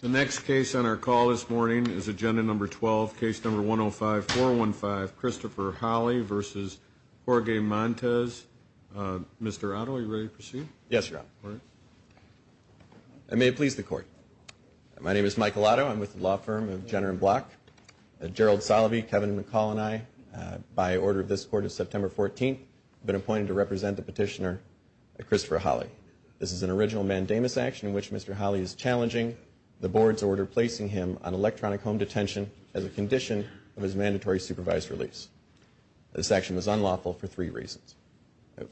The next case on our call this morning is Agenda Number 12, Case Number 105-415, Christopher Holley v. Jorge Montes. Mr. Otto, are you ready to proceed? Yes, Your Honor. All right. And may it please the Court. My name is Michael Otto. I'm with the law firm of Jenner & Block. Gerald Salovey, Kevin McCall, and I, by order of this Court of September 14th, have been appointed to represent the petitioner, Christopher Holley. This is an original mandamus action in which Mr. Holley is challenging the Board's order placing him on electronic home detention as a condition of his mandatory supervised release. This action was unlawful for three reasons.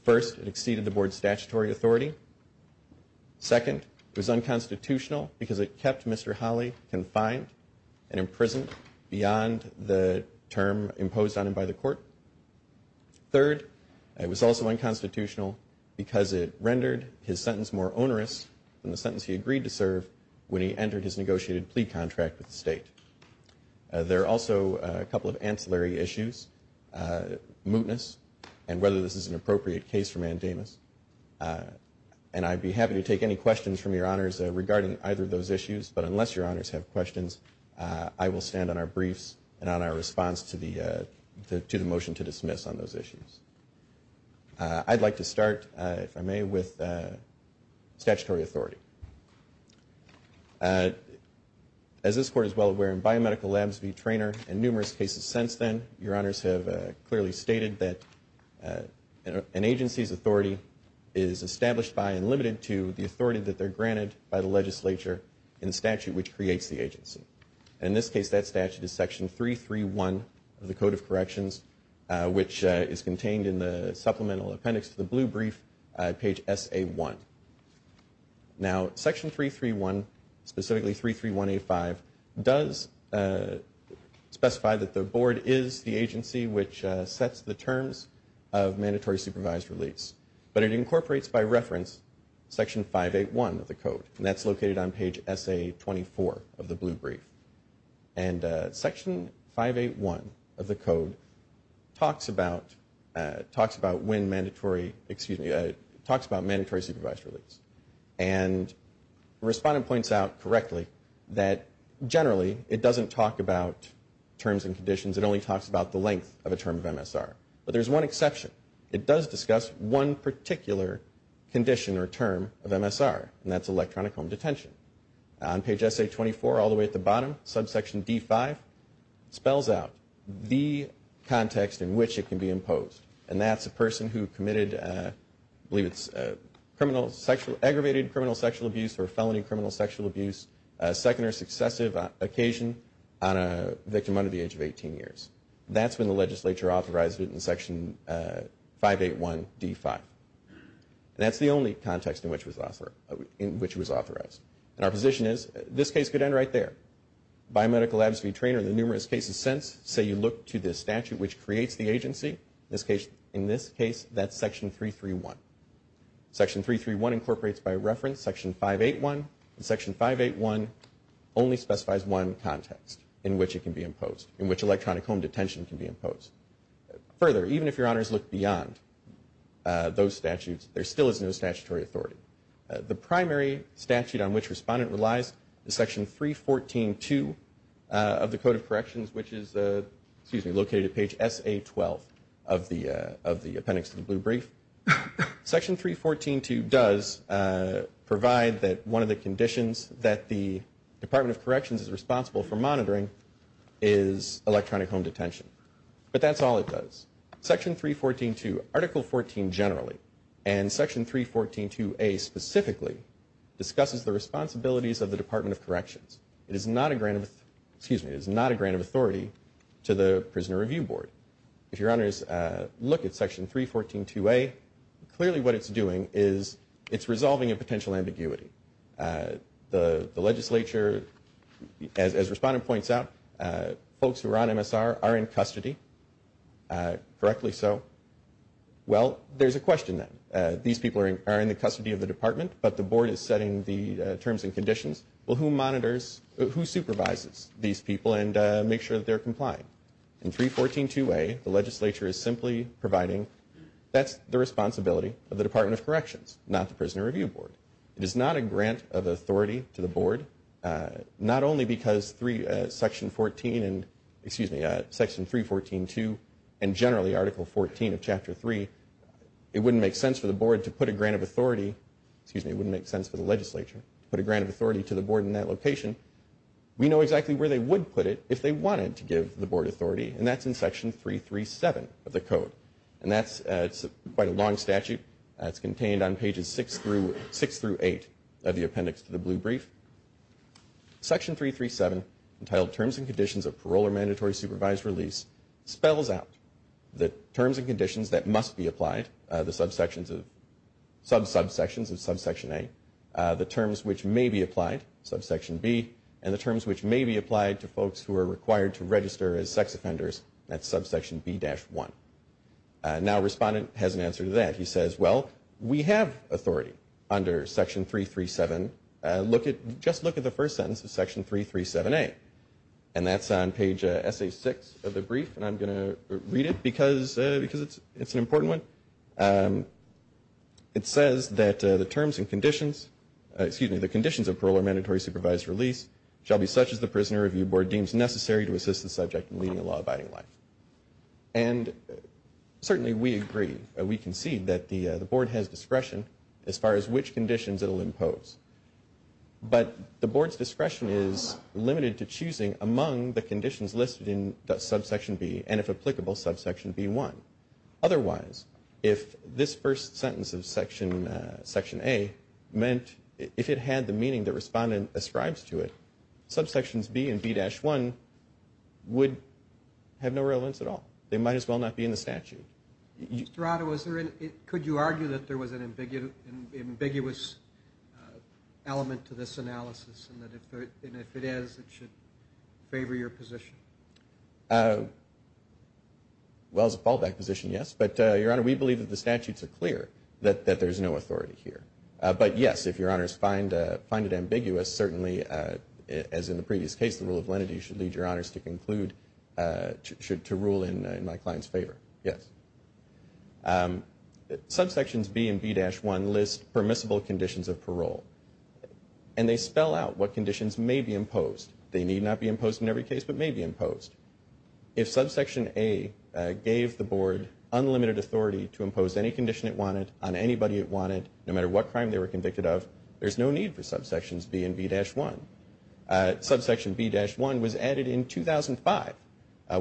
First, it exceeded the Board's statutory authority. Second, it was unconstitutional because it kept Mr. Holley confined Third, it was also unconstitutional because it rendered his sentence more onerous than the sentence he agreed to serve when he entered his negotiated plea contract with the state. There are also a couple of ancillary issues, mootness, and whether this is an appropriate case for mandamus. And I'd be happy to take any questions from Your Honors regarding either of those issues, but unless Your Honors have questions, I will stand on our briefs and on our response to the motion to dismiss on those issues. I'd like to start, if I may, with statutory authority. As this Court is well aware in biomedical labs v. trainer and numerous cases since then, Your Honors have clearly stated that an agency's authority is established by and limited to the authority that they're granted by the legislature in statute which creates the agency. In this case, that statute is Section 331 of the Code of Corrections, which is contained in the supplemental appendix to the blue brief, page SA1. Now, Section 331, specifically 331A5, does specify that the Board is the agency which sets the terms of mandatory supervised release, but it incorporates by reference Section 581 of the Code, and that's located on page SA24 of the blue brief. And Section 581 of the Code talks about when mandatory, excuse me, talks about mandatory supervised release. And the respondent points out correctly that generally it doesn't talk about terms and conditions. It only talks about the length of a term of MSR. But there's one exception. It does discuss one particular condition or term of MSR, and that's electronic home detention. On page SA24, all the way at the bottom, subsection D5 spells out the context in which it can be imposed. And that's a person who committed, I believe it's aggravated criminal sexual abuse or felony criminal sexual abuse, a second or successive occasion on a victim under the age of 18 years. That's when the legislature authorized it in Section 581D5. That's the only context in which it was authorized. And our position is this case could end right there. Biomedical labs v. trainer, the numerous cases since, say you look to the statute which creates the agency, in this case that's Section 331. Section 331 incorporates by reference Section 581. Section 581 only specifies one context in which it can be imposed, in which electronic home detention can be imposed. Further, even if your honors look beyond those statutes, there still is no statutory authority. The primary statute on which respondent relies is Section 314.2 of the Code of Corrections, which is located at page SA12 of the appendix to the blue brief. Section 314.2 does provide that one of the conditions that the Department of Corrections is responsible for monitoring is electronic home detention. But that's all it does. Section 314.2, Article 14 generally, and Section 314.2A specifically, discusses the responsibilities of the Department of Corrections. It is not a grant of authority to the Prisoner Review Board. If your honors look at Section 314.2A, clearly what it's doing is it's resolving a potential ambiguity. The legislature, as respondent points out, folks who are on MSR are in custody, correctly so. Well, there's a question then. These people are in the custody of the department, but the board is setting the terms and conditions. Well, who monitors, who supervises these people and makes sure that they're complying? In 314.2A, the legislature is simply providing that's the responsibility of the Department of Corrections, not the Prisoner Review Board. It is not a grant of authority to the board, not only because Section 314.2 and generally Article 14 of Chapter 3, it wouldn't make sense for the board to put a grant of authority, excuse me, it wouldn't make sense for the legislature to put a grant of authority to the board in that location. We know exactly where they would put it if they wanted to give the board authority, and that's in Section 337 of the code. And that's quite a long statute. It's contained on pages 6 through 8 of the appendix to the blue brief. Section 337, entitled Terms and Conditions of Parole or Mandatory Supervised Release, spells out the terms and conditions that must be applied, the subsections of, sub-subsections of Subsection A, the terms which may be applied, Subsection B, and the terms which may be applied to folks who are required to register as sex offenders at Subsection B-1. Now a respondent has an answer to that. He says, well, we have authority under Section 337. Just look at the first sentence of Section 337A. And that's on page SA6 of the brief, and I'm going to read it because it's an important one. It says that the terms and conditions, excuse me, the conditions of parole or mandatory supervised release shall be such as the prisoner review board deems necessary to assist the subject in leading a law-abiding life. And certainly we agree, we concede that the board has discretion as far as which conditions it will impose. But the board's discretion is limited to choosing among the conditions listed in Subsection B and, if applicable, Subsection B-1. Otherwise, if this first sentence of Section A meant, if it had the meaning the respondent ascribes to it, Subsections B and B-1 would have no relevance at all. They might as well not be in the statute. Mr. Otto, could you argue that there was an ambiguous element to this analysis and that if it is, it should favor your position? Well, as a fallback position, yes. But, Your Honor, we believe that the statutes are clear that there's no authority here. But, yes, if Your Honors find it ambiguous, certainly, as in the previous case, the rule of lenity should lead Your Honors to conclude, to rule in my client's favor. Yes. Subsections B and B-1 list permissible conditions of parole, and they spell out what conditions may be imposed. They need not be imposed in every case, but may be imposed. If Subsection A gave the Board unlimited authority to impose any condition it wanted on anybody it wanted, no matter what crime they were convicted of, there's no need for Subsections B and B-1. Subsection B-1 was added in 2005,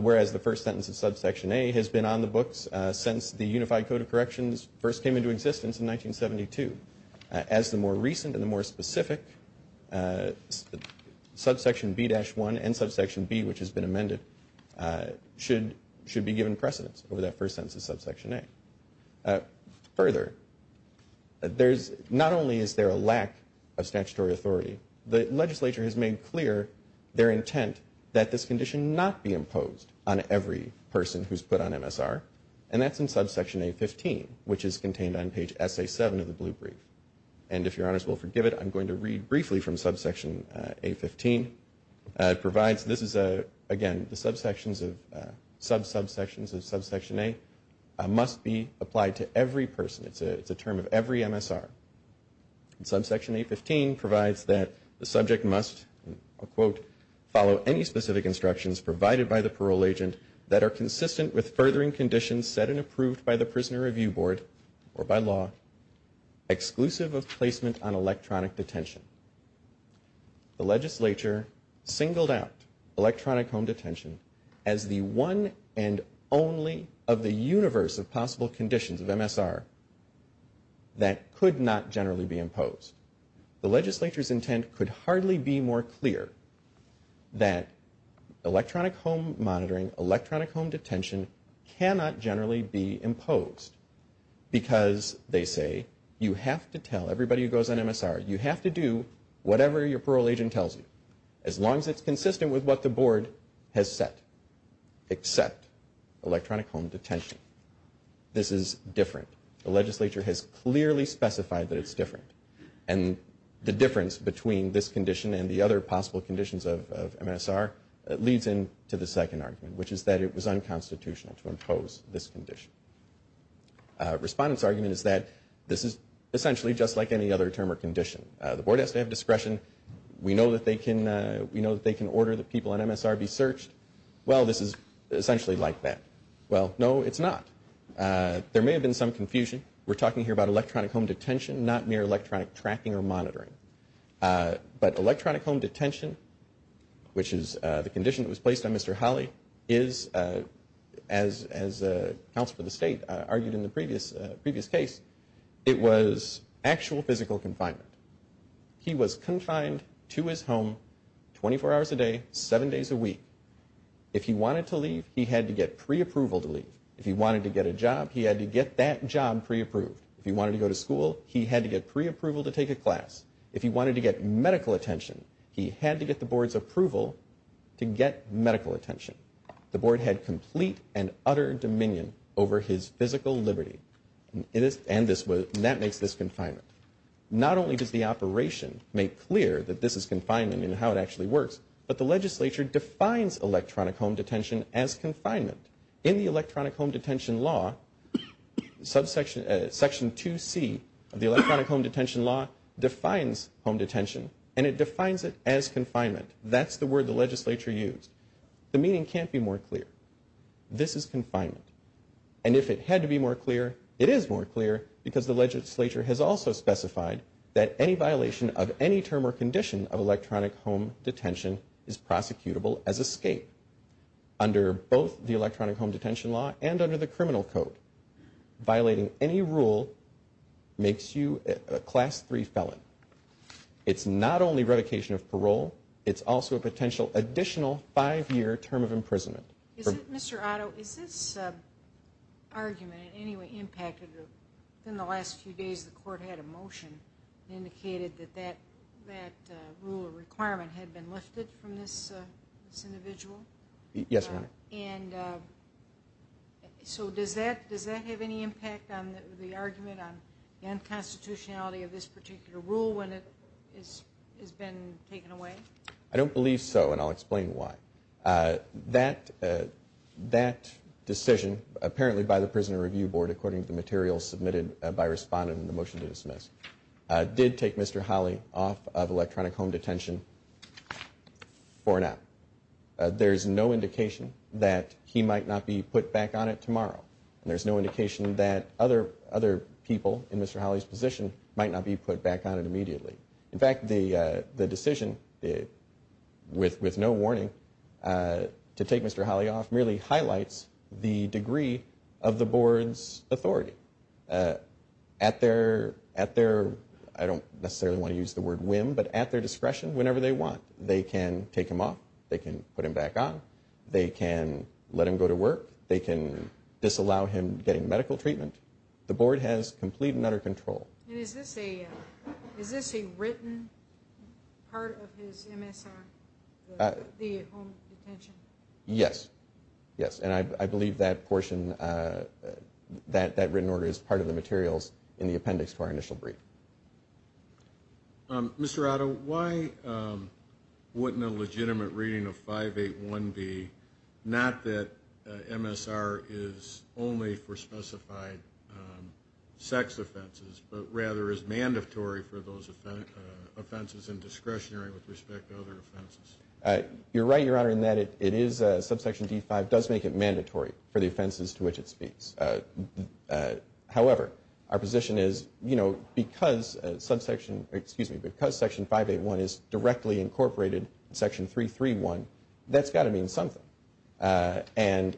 whereas the first sentence of Subsection A has been on the books since the Unified Code of Corrections first came into existence in 1972. As the more recent and the more specific, Subsection B-1 and Subsection B, which has been amended, should be given precedence over that first sentence of Subsection A. Further, not only is there a lack of statutory authority, the legislature has made clear their intent that this condition not be imposed on every person who's put on MSR, and that's in Subsection A-15, which is contained on page SA-7 of the blue brief. And if Your Honors will forgive it, I'm going to read briefly from Subsection A-15. It provides, this is a, again, the subsections of, sub-subsections of Subsection A must be applied to every person. It's a term of every MSR. Subsection A-15 provides that the subject must, I'll quote, follow any specific instructions provided by the parole agent that are consistent with furthering conditions set and approved by the Prisoner Review Board, or by law, exclusive of placement on electronic detention. The legislature singled out electronic home detention as the one and only of the universe of possible conditions of MSR that could not generally be imposed. The legislature's intent could hardly be more clear that electronic home monitoring, electronic home detention, cannot generally be imposed because, they say, you have to tell everybody who goes on MSR, you have to do whatever your parole agent tells you, as long as it's consistent with what the board has set, except electronic home detention. This is different. The legislature has clearly specified that it's different. And the difference between this condition and the other possible conditions of MSR leads in to the second argument, which is that it was unconstitutional to impose this condition. Respondent's argument is that this is essentially just like any other term or condition. The board has to have discretion. We know that they can, we know that they can order that people on MSR be searched. Well, this is essentially like that. Well, no, it's not. There may have been some confusion. We're talking here about electronic home detention, not mere electronic tracking or monitoring. But electronic home detention, which is the condition that was placed on Mr. Holley, is, as the counsel for the state argued in the previous case, it was actual physical confinement. He was confined to his home 24 hours a day, seven days a week. If he wanted to leave, he had to get preapproval to leave. If he wanted to get a job, he had to get that job preapproved. If he wanted to go to school, he had to get preapproval to take a class. If he wanted to get medical attention, he had to get the board's approval to get medical attention. The board had complete and utter dominion over his physical liberty. And that makes this confinement. Not only does the operation make clear that this is confinement and how it actually works, but the legislature defines electronic home detention as confinement. In the electronic home detention law, Section 2C of the electronic home detention law defines home detention, and it defines it as confinement. That's the word the legislature used. The meaning can't be more clear. This is confinement. And if it had to be more clear, it is more clear, because the legislature has also specified that any violation of any term or condition of electronic home detention is prosecutable as escape. Under both the electronic home detention law and under the criminal code, violating any rule makes you a Class 3 felon. It's not only revocation of parole. It's also a potential additional five-year term of imprisonment. Mr. Otto, is this argument in any way impacted? Within the last few days the court had a motion that indicated that that rule or requirement had been lifted from this individual. Yes, ma'am. And so does that have any impact on the argument on the unconstitutionality of this particular rule when it has been taken away? I don't believe so, and I'll explain why. That decision, apparently by the Prison Review Board, according to the materials submitted by respondent in the motion to dismiss, did take Mr. Holley off of electronic home detention for now. There's no indication that he might not be put back on it tomorrow. There's no indication that other people in Mr. Holley's position might not be put back on it immediately. In fact, the decision with no warning to take Mr. Holley off merely highlights the degree of the board's authority. At their, I don't necessarily want to use the word whim, but at their discretion, whenever they want, they can take him off. They can put him back on. They can let him go to work. They can disallow him getting medical treatment. The board has complete and utter control. And is this a written part of his MSR, the home detention? Yes. Yes, and I believe that portion, that written order, is part of the materials in the appendix to our initial brief. Mr. Otto, why wouldn't a legitimate reading of 581 be not that MSR is only for specified sex offenses, but rather is mandatory for those offenses in discretionary with respect to other offenses? You're right, Your Honor, in that it is, subsection D5 does make it mandatory for the offenses to which it speaks. However, our position is, you know, because subsection, excuse me, because section 581 is directly incorporated in section 331, that's got to mean something. And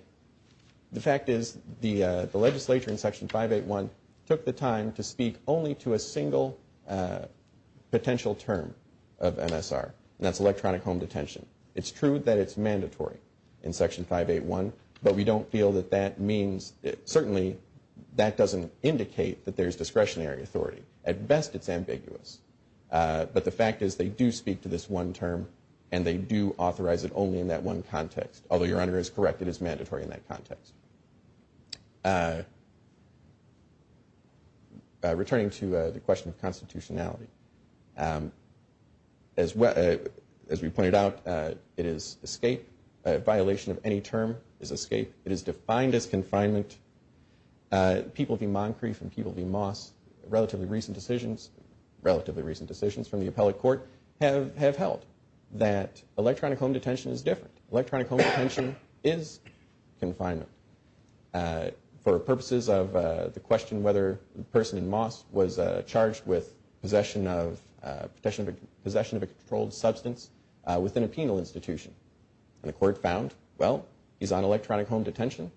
the fact is the legislature in section 581 took the time to speak only to a single potential term of MSR, and that's electronic home detention. It's true that it's mandatory in section 581, but we don't feel that that means, certainly that doesn't indicate that there's discretionary authority. At best, it's ambiguous. But the fact is they do speak to this one term and they do authorize it only in that one context. Although Your Honor is correct, it is mandatory in that context. Returning to the question of constitutionality, as we pointed out, it is escape. A violation of any term is escape. It is defined as confinement. Relatively recent decisions from the appellate court have held that electronic home detention is different. Electronic home detention is confinement for purposes of the question whether the person in Moss was charged with possession of a controlled substance within a penal institution. And the court found, well, he's on electronic home detention.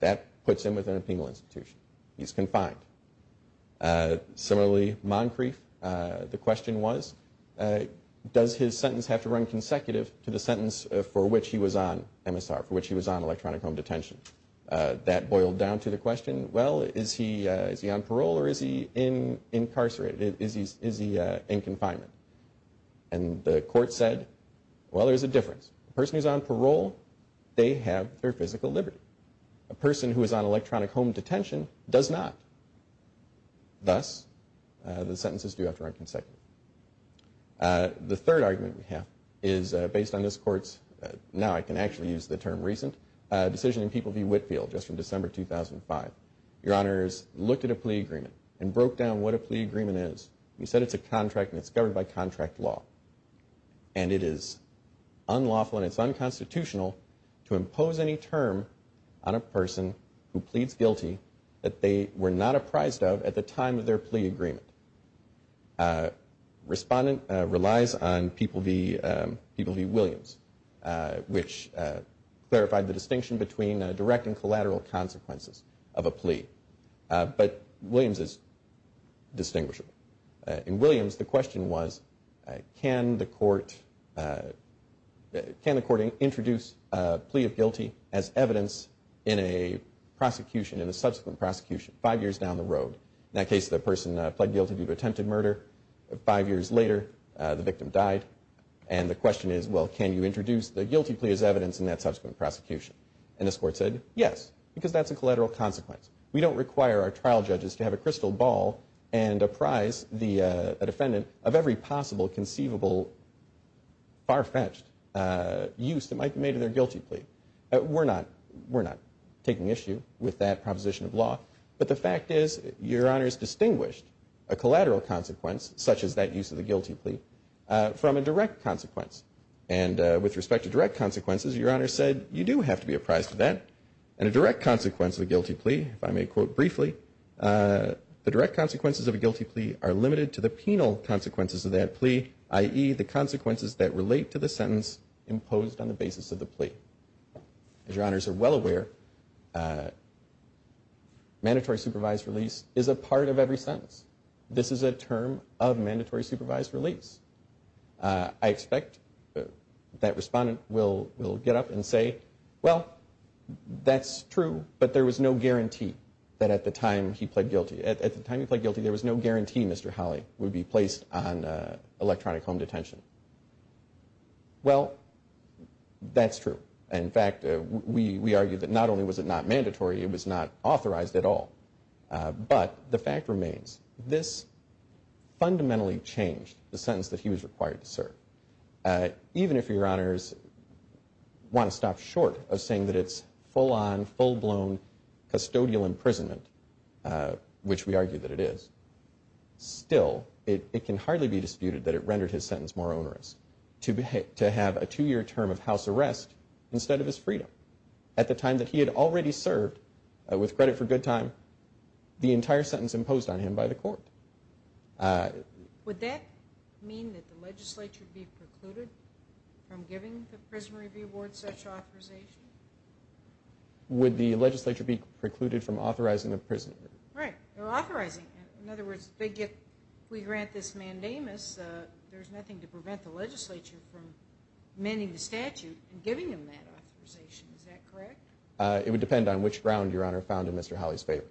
That puts him within a penal institution. He's confined. Similarly, Moncrief, the question was, does his sentence have to run consecutive to the sentence for which he was on MSR, for which he was on electronic home detention? That boiled down to the question, well, is he on parole or is he incarcerated? Is he in confinement? And the court said, well, there's a difference. The person who's on parole, they have their physical liberty. A person who is on electronic home detention does not. Thus, the sentences do have to run consecutive. The third argument we have is based on this court's, now I can actually use the term recent, decision in People v. Whitfield just from December 2005. Your Honors, looked at a plea agreement and broke down what a plea agreement is. We said it's a contract and it's governed by contract law. And it is unlawful and it's unconstitutional to impose any term on a person who pleads guilty that they were not apprised of at the time of their plea agreement. Respondent relies on People v. Williams, which clarified the distinction between direct and collateral consequences of a plea. But Williams is distinguishable. In Williams, the question was, can the court introduce a plea of guilty as evidence in a prosecution, in a subsequent prosecution five years down the road? In that case, the person pled guilty to attempted murder. Five years later, the victim died. And the question is, well, can you introduce the guilty plea as evidence in that subsequent prosecution? And this court said, yes, because that's a collateral consequence. We don't require our trial judges to have a crystal ball and apprise a defendant of every possible conceivable far-fetched use that might be made in their guilty plea. We're not taking issue with that proposition of law. But the fact is, Your Honors distinguished a collateral consequence, such as that use of the guilty plea, from a direct consequence. And with respect to direct consequences, Your Honors said, you do have to be apprised of that. And a direct consequence of a guilty plea, if I may quote briefly, the direct consequences of a guilty plea are limited to the penal consequences of that plea, i.e., the consequences that relate to the sentence imposed on the basis of the plea. As Your Honors are well aware, mandatory supervised release is a part of every sentence. This is a term of mandatory supervised release. I expect that respondent will get up and say, well, that's true, but there was no guarantee that at the time he pled guilty, at the time he pled guilty there was no guarantee Mr. Holley would be placed on electronic home detention. Well, that's true. In fact, we argue that not only was it not mandatory, it was not authorized at all. But the fact remains, this fundamentally changed the sentence that he was required to serve. Even if Your Honors want to stop short of saying that it's full-on, full-blown custodial imprisonment, which we argue that it is, still it can hardly be disputed that it rendered his sentence more onerous to have a two-year term of house arrest instead of his freedom. At the time that he had already served, with credit for good time, the entire sentence imposed on him by the court. Would that mean that the legislature would be precluded from giving the Prison Review Board such authorization? Would the legislature be precluded from authorizing a prison review? Right, or authorizing. In other words, if we grant this mandamus, there's nothing to prevent the legislature from amending the statute and giving him that authorization. Is that correct? It would depend on which ground Your Honor found in Mr. Holley's favor.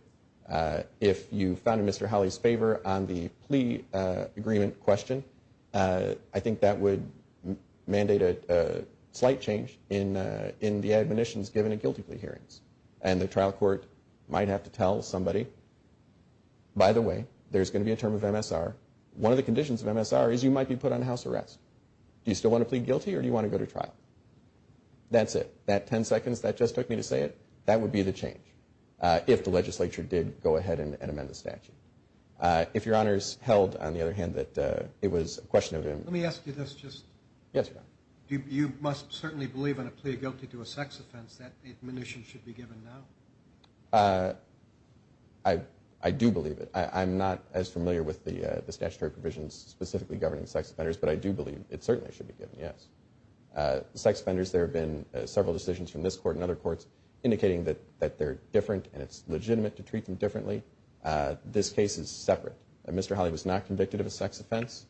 If you found in Mr. Holley's favor on the plea agreement question, I think that would mandate a slight change in the admonitions given at guilty plea hearings. And the trial court might have to tell somebody, by the way, there's going to be a term of MSR. One of the conditions of MSR is you might be put on house arrest. Do you still want to plead guilty or do you want to go to trial? That's it. That 10 seconds that just took me to say it, that would be the change, if the legislature did go ahead and amend the statute. If Your Honor's held, on the other hand, that it was a question of MSR. Let me ask you this just. Yes, Your Honor. You must certainly believe in a plea guilty to a sex offense that admonition should be given now. I do believe it. I'm not as familiar with the statutory provisions specifically governing sex offenders, but I do believe it certainly should be given, yes. Sex offenders, there have been several decisions from this court and other courts indicating that they're different and it's legitimate to treat them differently. This case is separate. Mr. Holley was not convicted of a sex offense,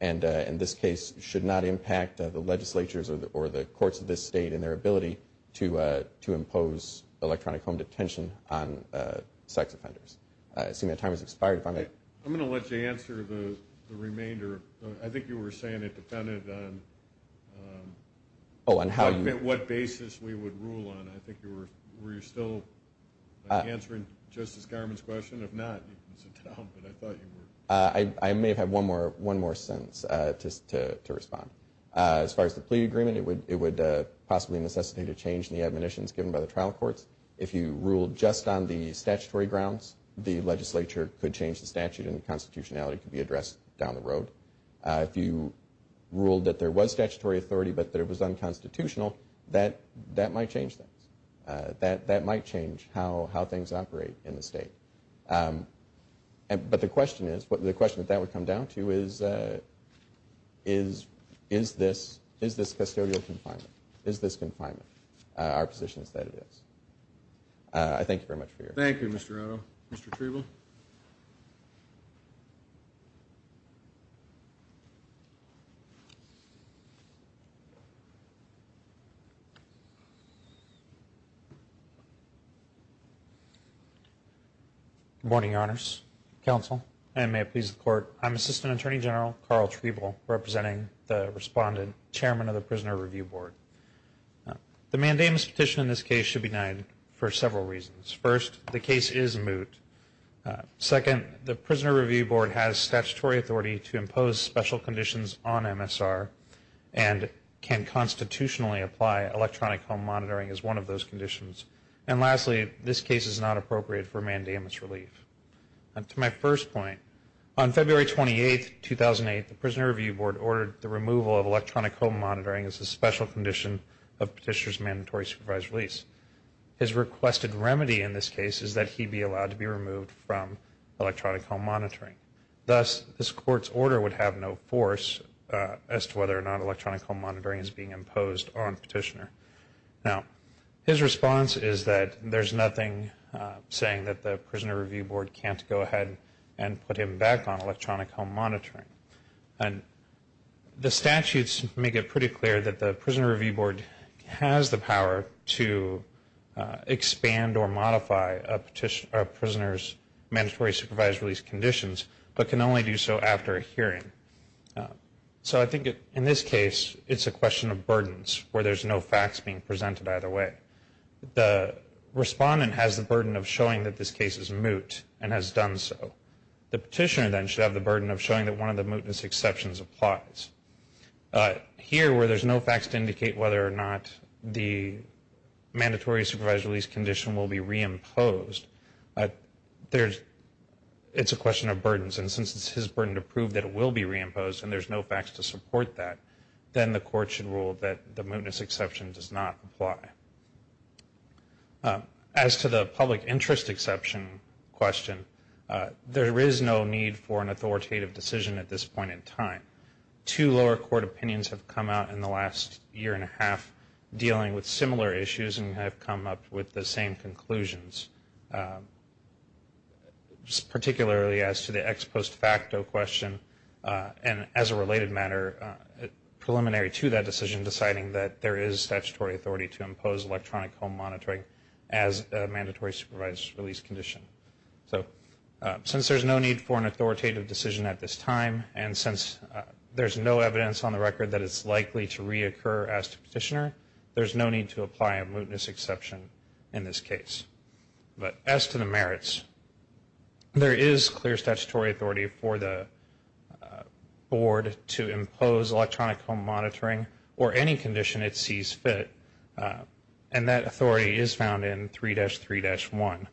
and this case should not impact the legislatures or the courts of this state in their ability to impose electronic home detention on sex offenders. I assume your time has expired. I'm going to let you answer the remainder. I think you were saying it depended on what basis we would rule on. I think you were still answering Justice Garmon's question. If not, you can sit down, but I thought you were. I may have had one more sentence to respond. As far as the plea agreement, it would possibly necessitate a change in the admonitions given by the trial courts. If you ruled just on the statutory grounds, the legislature could change the statute and the constitutionality could be addressed down the road. If you ruled that there was statutory authority but that it was unconstitutional, that might change things. That might change how things operate in the state. But the question that that would come down to is, is this custodial confinement? Is this confinement our position is that it is? I thank you very much for your time. Thank you, Mr. Otto. Mr. Treble? Good morning, Your Honors, Counsel, and may it please the Court. I'm Assistant Attorney General Carl Treble, representing the Respondent, Chairman of the Prisoner Review Board. The mandamus petition in this case should be denied for several reasons. First, the case is moot. Second, the Prisoner Review Board has statutory authority to impose special conditions on MSR and can constitutionally apply electronic home monitoring as one of those conditions. And lastly, this case is not appropriate for mandamus relief. To my first point, on February 28, 2008, the Prisoner Review Board ordered the removal of electronic home monitoring as a special condition of Petitioner's mandatory supervised release. His requested remedy in this case is that he be allowed to be removed from electronic home monitoring. Thus, this Court's order would have no force as to whether or not electronic home monitoring is being imposed on Petitioner. Now, his response is that there's nothing saying that the Prisoner Review Board can't go ahead and put him back on electronic home monitoring. The statutes make it pretty clear that the Prisoner Review Board has the power to expand or modify a Prisoner's mandatory supervised release conditions, but can only do so after a hearing. So I think in this case, it's a question of burdens, where there's no facts being presented either way. The Respondent has the burden of showing that this case is moot and has done so. The Petitioner then should have the burden of showing that one of the mootness exceptions applies. Here, where there's no facts to indicate whether or not the mandatory supervised release condition will be reimposed, it's a question of burdens, and since it's his burden to prove that it will be reimposed and there's no facts to support that, then the Court should rule that the mootness exception does not apply. As to the public interest exception question, there is no need for an authoritative decision at this point in time. Two lower court opinions have come out in the last year and a half dealing with similar issues and have come up with the same conclusions, particularly as to the ex post facto question, and as a related matter, preliminary to that decision deciding that there is statutory authority to impose electronic home monitoring as a mandatory supervised release condition. So since there's no need for an authoritative decision at this time, and since there's no evidence on the record that it's likely to reoccur as to Petitioner, there's no need to apply a mootness exception in this case. But as to the merits, there is clear statutory authority for the Board to impose electronic home monitoring or any condition it sees fit, and that authority is found in 3-3-1.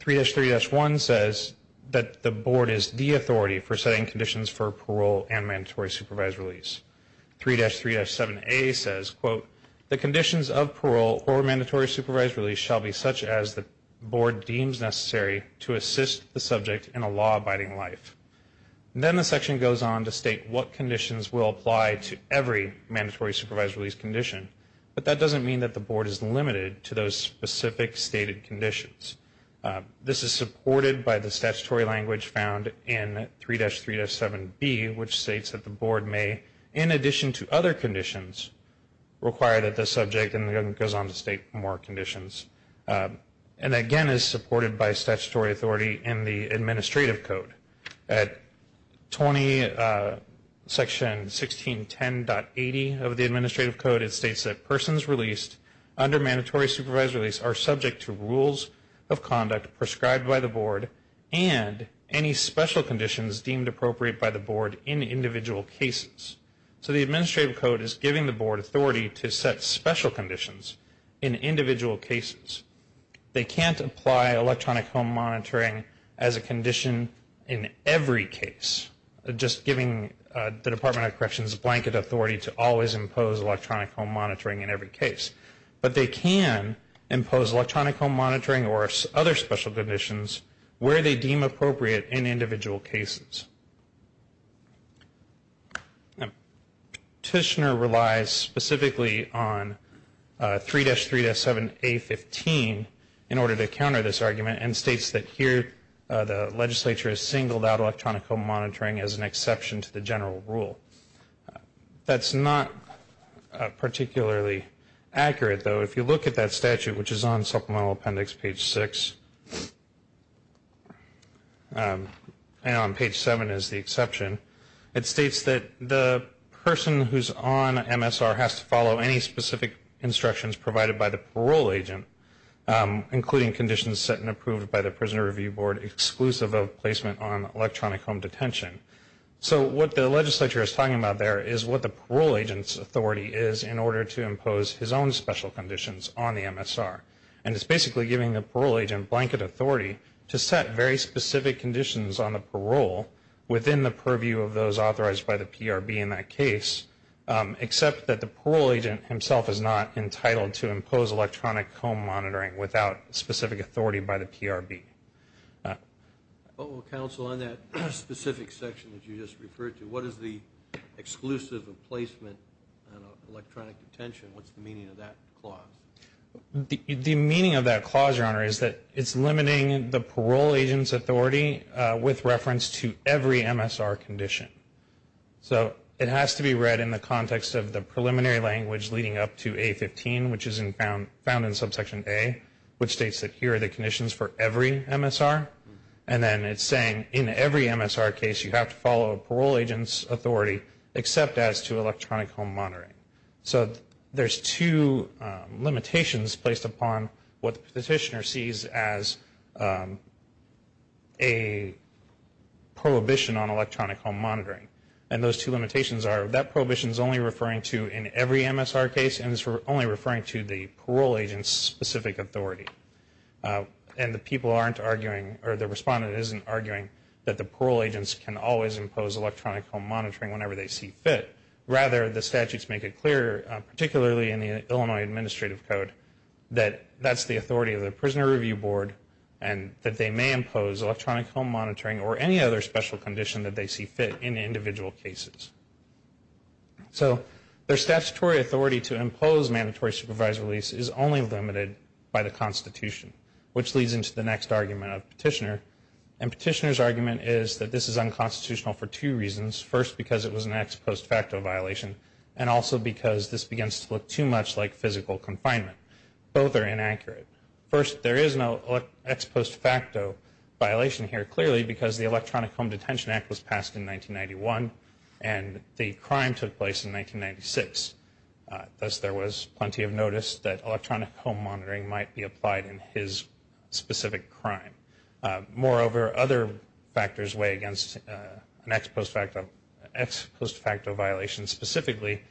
3-3-1 says that the Board is the authority for setting conditions for parole and mandatory supervised release. 3-3-7a says, quote, the conditions of parole or mandatory supervised release shall be such as the Board deems necessary to assist the subject in a law-abiding life. Then the section goes on to state what conditions will apply to every mandatory supervised release condition. But that doesn't mean that the Board is limited to those specific stated conditions. This is supported by the statutory language found in 3-3-7b, which states that the Board may, in addition to other conditions, require that the subject, and then it goes on to state more conditions, and again is supported by statutory authority in the Administrative Code. At Section 1610.80 of the Administrative Code, it states that persons released under mandatory supervised release are subject to rules of conduct prescribed by the Board and any special conditions deemed appropriate by the Board in individual cases. So the Administrative Code is giving the Board authority to set special conditions in individual cases. They can't apply electronic home monitoring as a condition in every case, just giving the Department of Corrections blanket authority to always impose electronic home monitoring in every case. But they can impose electronic home monitoring or other special conditions where they deem appropriate in individual cases. Now, Tishner relies specifically on 3-3-7a15 in order to counter this argument and states that here the legislature has singled out electronic home monitoring as an exception to the general rule. That's not particularly accurate, though. If you look at that statute, which is on Supplemental Appendix page 6, and on page 7 is the exception, it states that the person who's on MSR has to follow any specific instructions provided by the parole agent, including conditions set and approved by the Prisoner Review Board exclusive of placement on electronic home detention. So what the legislature is talking about there is what the parole agent's authority is in order to impose his own special conditions on the MSR. And it's basically giving the parole agent blanket authority to set very specific conditions on the parole within the purview of those authorized by the PRB in that case, except that the parole agent himself is not entitled to impose electronic home monitoring without specific authority by the PRB. Well, Counsel, on that specific section that you just referred to, what is the exclusive of placement on electronic detention? What's the meaning of that clause? The meaning of that clause, Your Honor, is that it's limiting the parole agent's authority with reference to every MSR condition. So it has to be read in the context of the preliminary language leading up to A-15, which is found in Subsection A, which states that here are the conditions for every MSR. And then it's saying in every MSR case you have to follow a parole agent's authority except as to electronic home monitoring. So there's two limitations placed upon what the petitioner sees as a prohibition on electronic home monitoring. And those two limitations are that prohibition is only referring to in every MSR case and it's only referring to the parole agent's specific authority. And the people aren't arguing, or the respondent isn't arguing, that the parole agents can always impose electronic home monitoring whenever they see fit. Rather, the statutes make it clear, particularly in the Illinois Administrative Code, that that's the authority of the Prisoner Review Board and that they may impose electronic home monitoring or any other special condition that they see fit in individual cases. So their statutory authority to impose mandatory supervisory release is only limited by the Constitution, which leads into the next argument of Petitioner. And Petitioner's argument is that this is unconstitutional for two reasons. First, because it was an ex post facto violation, and also because this begins to look too much like physical confinement. Both are inaccurate. First, there is no ex post facto violation here, clearly, because the Electronic Home Detention Act was passed in 1991 and the crime took place in 1996. Thus, there was plenty of notice that electronic home monitoring might be applied in his specific crime. Moreover, other factors weigh against an ex post facto violation. Specifically,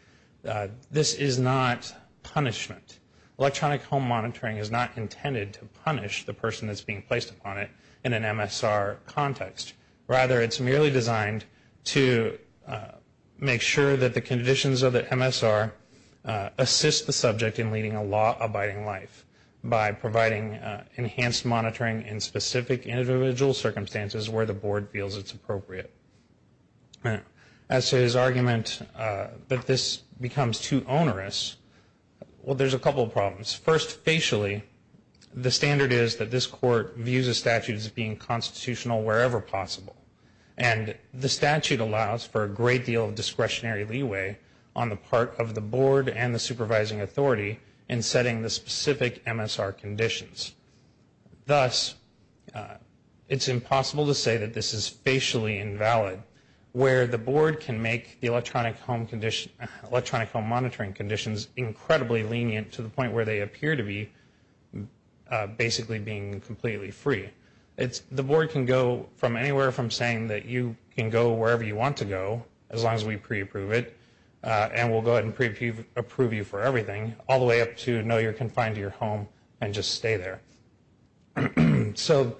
this is not punishment. Electronic home monitoring is not intended to punish the person that's being placed upon it in an MSR context. Rather, it's merely designed to make sure that the conditions of the MSR assist the subject in leading a law-abiding life by providing enhanced monitoring in specific individual circumstances where the board feels it's appropriate. As to his argument that this becomes too onerous, well, there's a couple of problems. First, facially, the standard is that this court views a statute as being constitutional wherever possible. And the statute allows for a great deal of discretionary leeway on the part of the board and the supervising authority in setting the specific MSR conditions. Thus, it's impossible to say that this is facially invalid, where the board can make the electronic home monitoring conditions incredibly lenient to the point where they appear to be basically being completely free. The board can go from anywhere from saying that you can go wherever you want to go, as long as we pre-approve it, and we'll go ahead and pre-approve you for everything, all the way up to no, you're confined to your home and just stay there. So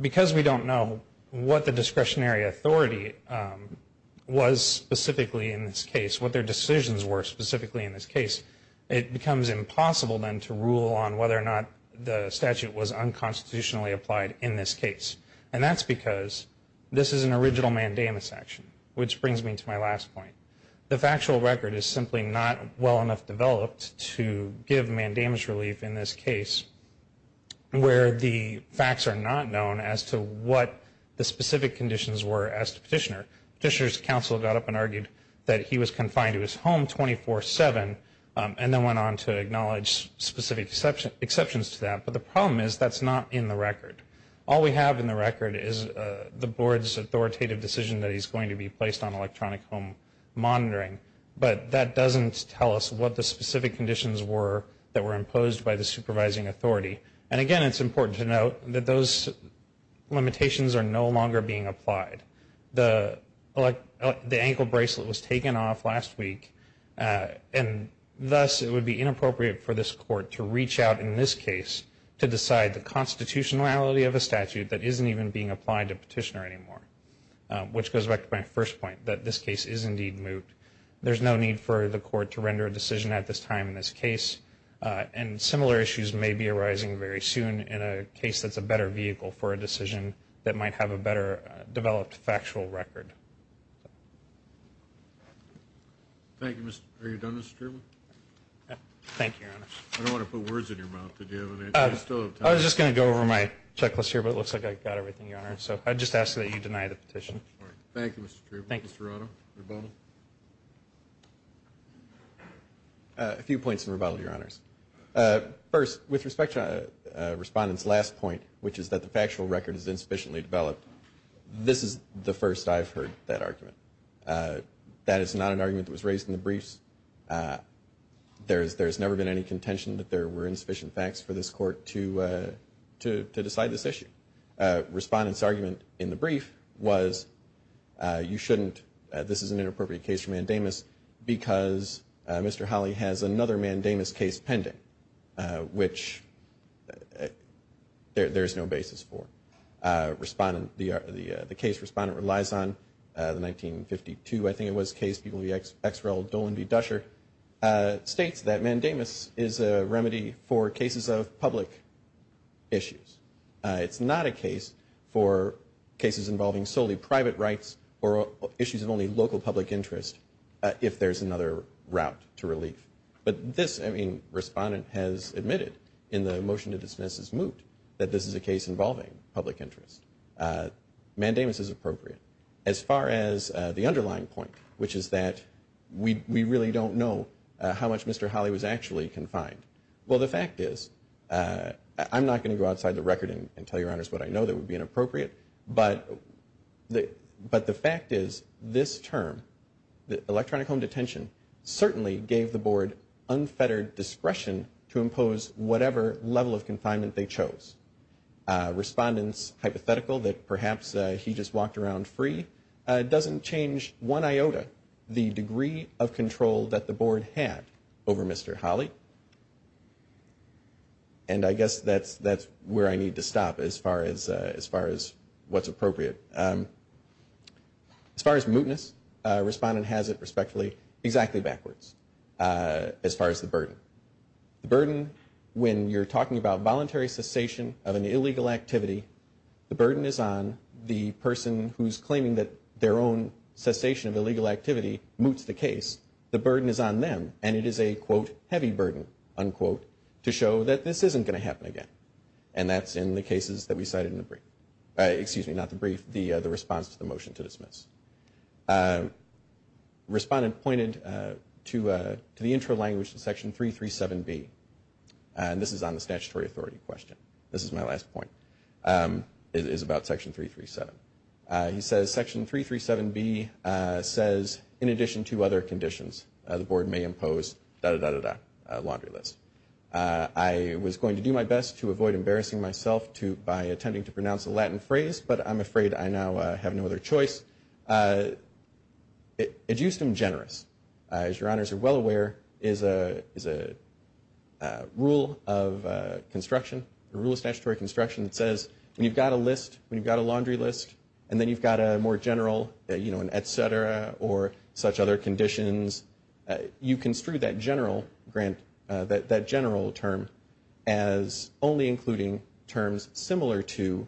because we don't know what the discretionary authority was specifically in this case, what their decisions were specifically in this case, it becomes impossible then to rule on whether or not the statute was unconstitutionally applied in this case. And that's because this is an original mandamus action, which brings me to my last point. The factual record is simply not well enough developed to give mandamus relief in this case, where the facts are not known as to what the specific conditions were as to Petitioner. Petitioner's counsel got up and argued that he was confined to his home 24-7, and then went on to acknowledge specific exceptions to that. But the problem is that's not in the record. All we have in the record is the Board's authoritative decision that he's going to be placed on electronic home monitoring. But that doesn't tell us what the specific conditions were that were imposed by the supervising authority. And again, it's important to note that those limitations are no longer being applied. The ankle bracelet was taken off last week, and thus it would be inappropriate for this Court to reach out in this case to decide the constitutionality of a statute that isn't even being applied to Petitioner anymore, which goes back to my first point, that this case is indeed moot. There's no need for the Court to render a decision at this time in this case. And similar issues may be arising very soon in a case that's a better vehicle for a decision that might have a better developed factual record. Thank you. Thank you, Your Honor. I don't want to put words in your mouth, but do you have any? I was just going to go over my checklist here, but it looks like I got everything, Your Honor. So I'd just ask that you deny the petition. Thank you, Mr. Tripp. Mr. Rado, rebuttal? A few points of rebuttal, Your Honors. First, with respect to Respondent's last point, which is that the factual record is insufficiently developed, this is the first I've heard that argument. That is not an argument that was raised in the briefs. There's never been any contention that there were insufficient facts for this Court to decide this issue. Respondent's argument in the brief was you shouldn't, this is an inappropriate case for mandamus because Mr. Holley has another mandamus case pending, which there's no basis for. The case Respondent relies on, the 1952, I think it was, case People v. Exrell, Dolan v. Dusher, states that mandamus is a remedy for cases of public issues. It's not a case for cases involving solely private rights or issues of only local public interest, but this, I mean, Respondent has admitted in the motion to dismiss his moot that this is a case involving public interest. Mandamus is appropriate. As far as the underlying point, which is that we really don't know how much Mr. Holley was actually confined. Well, the fact is, I'm not going to go outside the record and tell Your Honors what I know that would be inappropriate, but the fact is this term, electronic home detention, certainly gave the Board unfettered discretion to impose whatever level of confinement they chose. Respondent's hypothetical that perhaps he just walked around free doesn't change one iota the degree of control that the Board had over Mr. Holley, and I guess that's where I need to stop as far as what's appropriate. As far as mootness, Respondent has it respectfully exactly backwards as far as the burden. The burden, when you're talking about voluntary cessation of an illegal activity, the burden is on the person who's claiming that their own cessation of illegal activity moots the case. The burden is on them, and it is a, quote, heavy burden, unquote, to show that this isn't going to happen again, and that's in the cases that we cited in the brief. Excuse me, not the brief, the response to the motion to dismiss. Respondent pointed to the intro language to Section 337B, and this is on the statutory authority question. This is my last point. It is about Section 337. He says, Section 337B says, in addition to other conditions, the Board may impose da-da-da-da-da, a laundry list. I was going to do my best to avoid embarrassing myself by attempting to pronounce the Latin phrase, but I'm afraid I now have no other choice. It used to be generous. As your honors are well aware, there's a rule of construction, a rule of statutory construction that says, when you've got a list, when you've got a laundry list, and then you've got a more general, you know, as only including terms similar to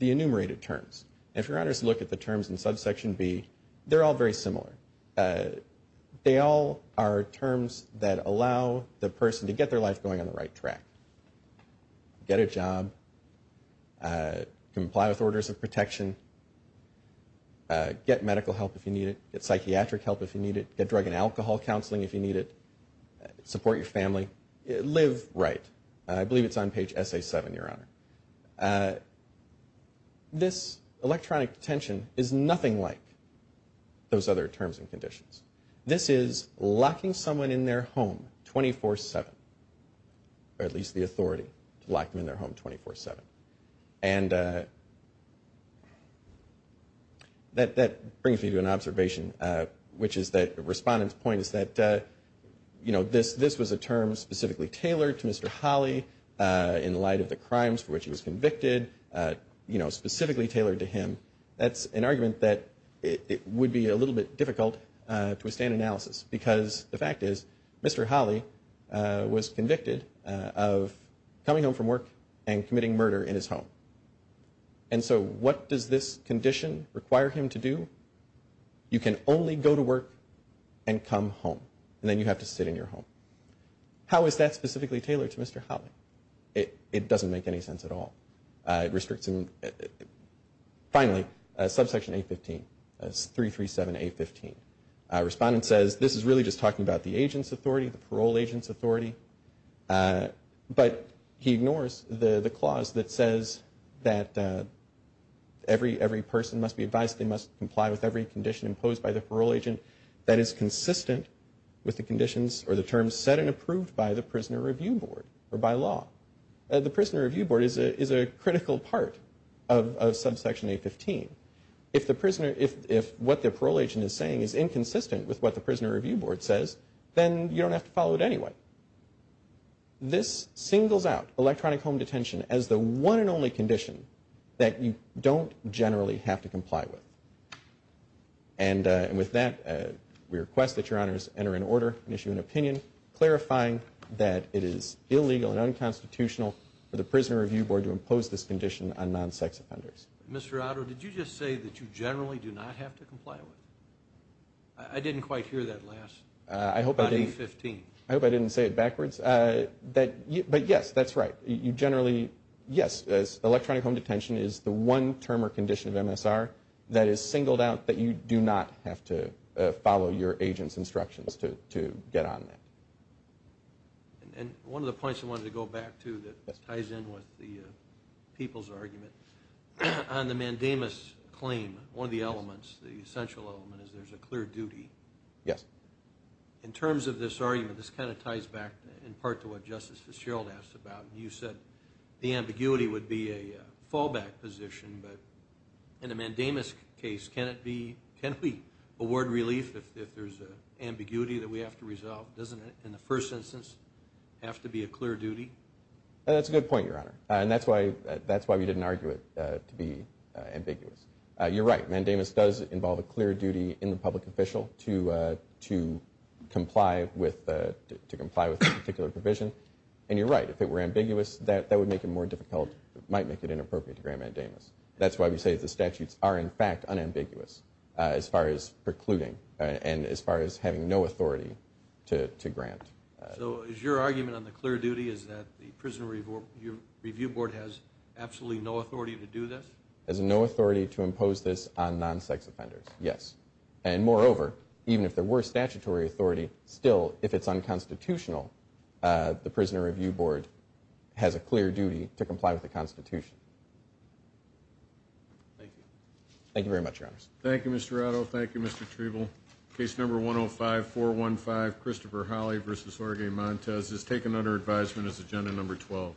the enumerated terms. If your honors look at the terms in Subsection B, they're all very similar. They all are terms that allow the person to get their life going on the right track. Get a job. Comply with orders of protection. Get medical help if you need it. Get psychiatric help if you need it. Get drug and alcohol counseling if you need it. Support your family. Live right. I believe it's on page SA7, your honor. This electronic detention is nothing like those other terms and conditions. This is locking someone in their home 24-7, or at least the authority to lock them in their home 24-7. And that brings me to an observation, which is that the respondent's point is that, you know, this was a term specifically tailored to Mr. Holley in light of the crimes for which he was convicted, you know, specifically tailored to him. That's an argument that it would be a little bit difficult to withstand analysis, because the fact is Mr. Holley was convicted of coming home from work and committing murder in his home. And so what does this condition require him to do? You can only go to work and come home, and then you have to sit in your home. How is that specifically tailored to Mr. Holley? It doesn't make any sense at all. It restricts him. Finally, subsection 815, 337A15. Respondent says, this is really just talking about the agent's authority, the parole agent's authority. But he ignores the clause that says that every person must be advised they must comply with every condition imposed by the parole agent that is consistent with the conditions or the terms set and approved by the Prisoner Review Board or by law. The Prisoner Review Board is a critical part of subsection 815. If what the parole agent is saying is inconsistent with what the Prisoner Review Board says, then you don't have to follow it anyway. This singles out electronic home detention as the one and only condition that you don't generally have to comply with. And with that, we request that Your Honors enter in order and issue an opinion clarifying that it is illegal and unconstitutional for the Prisoner Review Board to impose this condition on non-sex offenders. Mr. Otto, did you just say that you generally do not have to comply with it? I didn't quite hear that last. I hope I didn't. 815. I hope I didn't say it backwards. But yes, that's right. You generally, yes, electronic home detention is the one term or condition of MSR that is singled out that you do not have to follow your agent's instructions to get on that. And one of the points I wanted to go back to that ties in with the people's argument, on the mandamus claim, one of the elements, the essential element is there's a clear duty. Yes. In terms of this argument, this kind of ties back in part to what Justice Fitzgerald asked about. You said the ambiguity would be a fallback position, but in a mandamus case, can we award relief if there's an ambiguity that we have to resolve? Doesn't it, in the first instance, have to be a clear duty? That's a good point, Your Honor. And that's why we didn't argue it to be ambiguous. You're right. Mandamus does involve a clear duty in the public official to comply with a particular provision. And you're right. If it were ambiguous, that would make it more difficult. It might make it inappropriate to grant mandamus. That's why we say the statutes are, in fact, unambiguous as far as precluding and as far as having no authority to grant. So is your argument on the clear duty is that the Prison Review Board has absolutely no authority to do this? Has no authority to impose this on non-sex offenders, yes. And moreover, even if there were statutory authority, still, if it's unconstitutional, the Prison Review Board has a clear duty to comply with the Constitution. Thank you. Thank you very much, Your Honors. Thank you, Mr. Rado. Thank you, Mr. Trevel. Case number 105-415, Christopher Holley v. Jorge Montez, is taken under advisement as agenda number 12.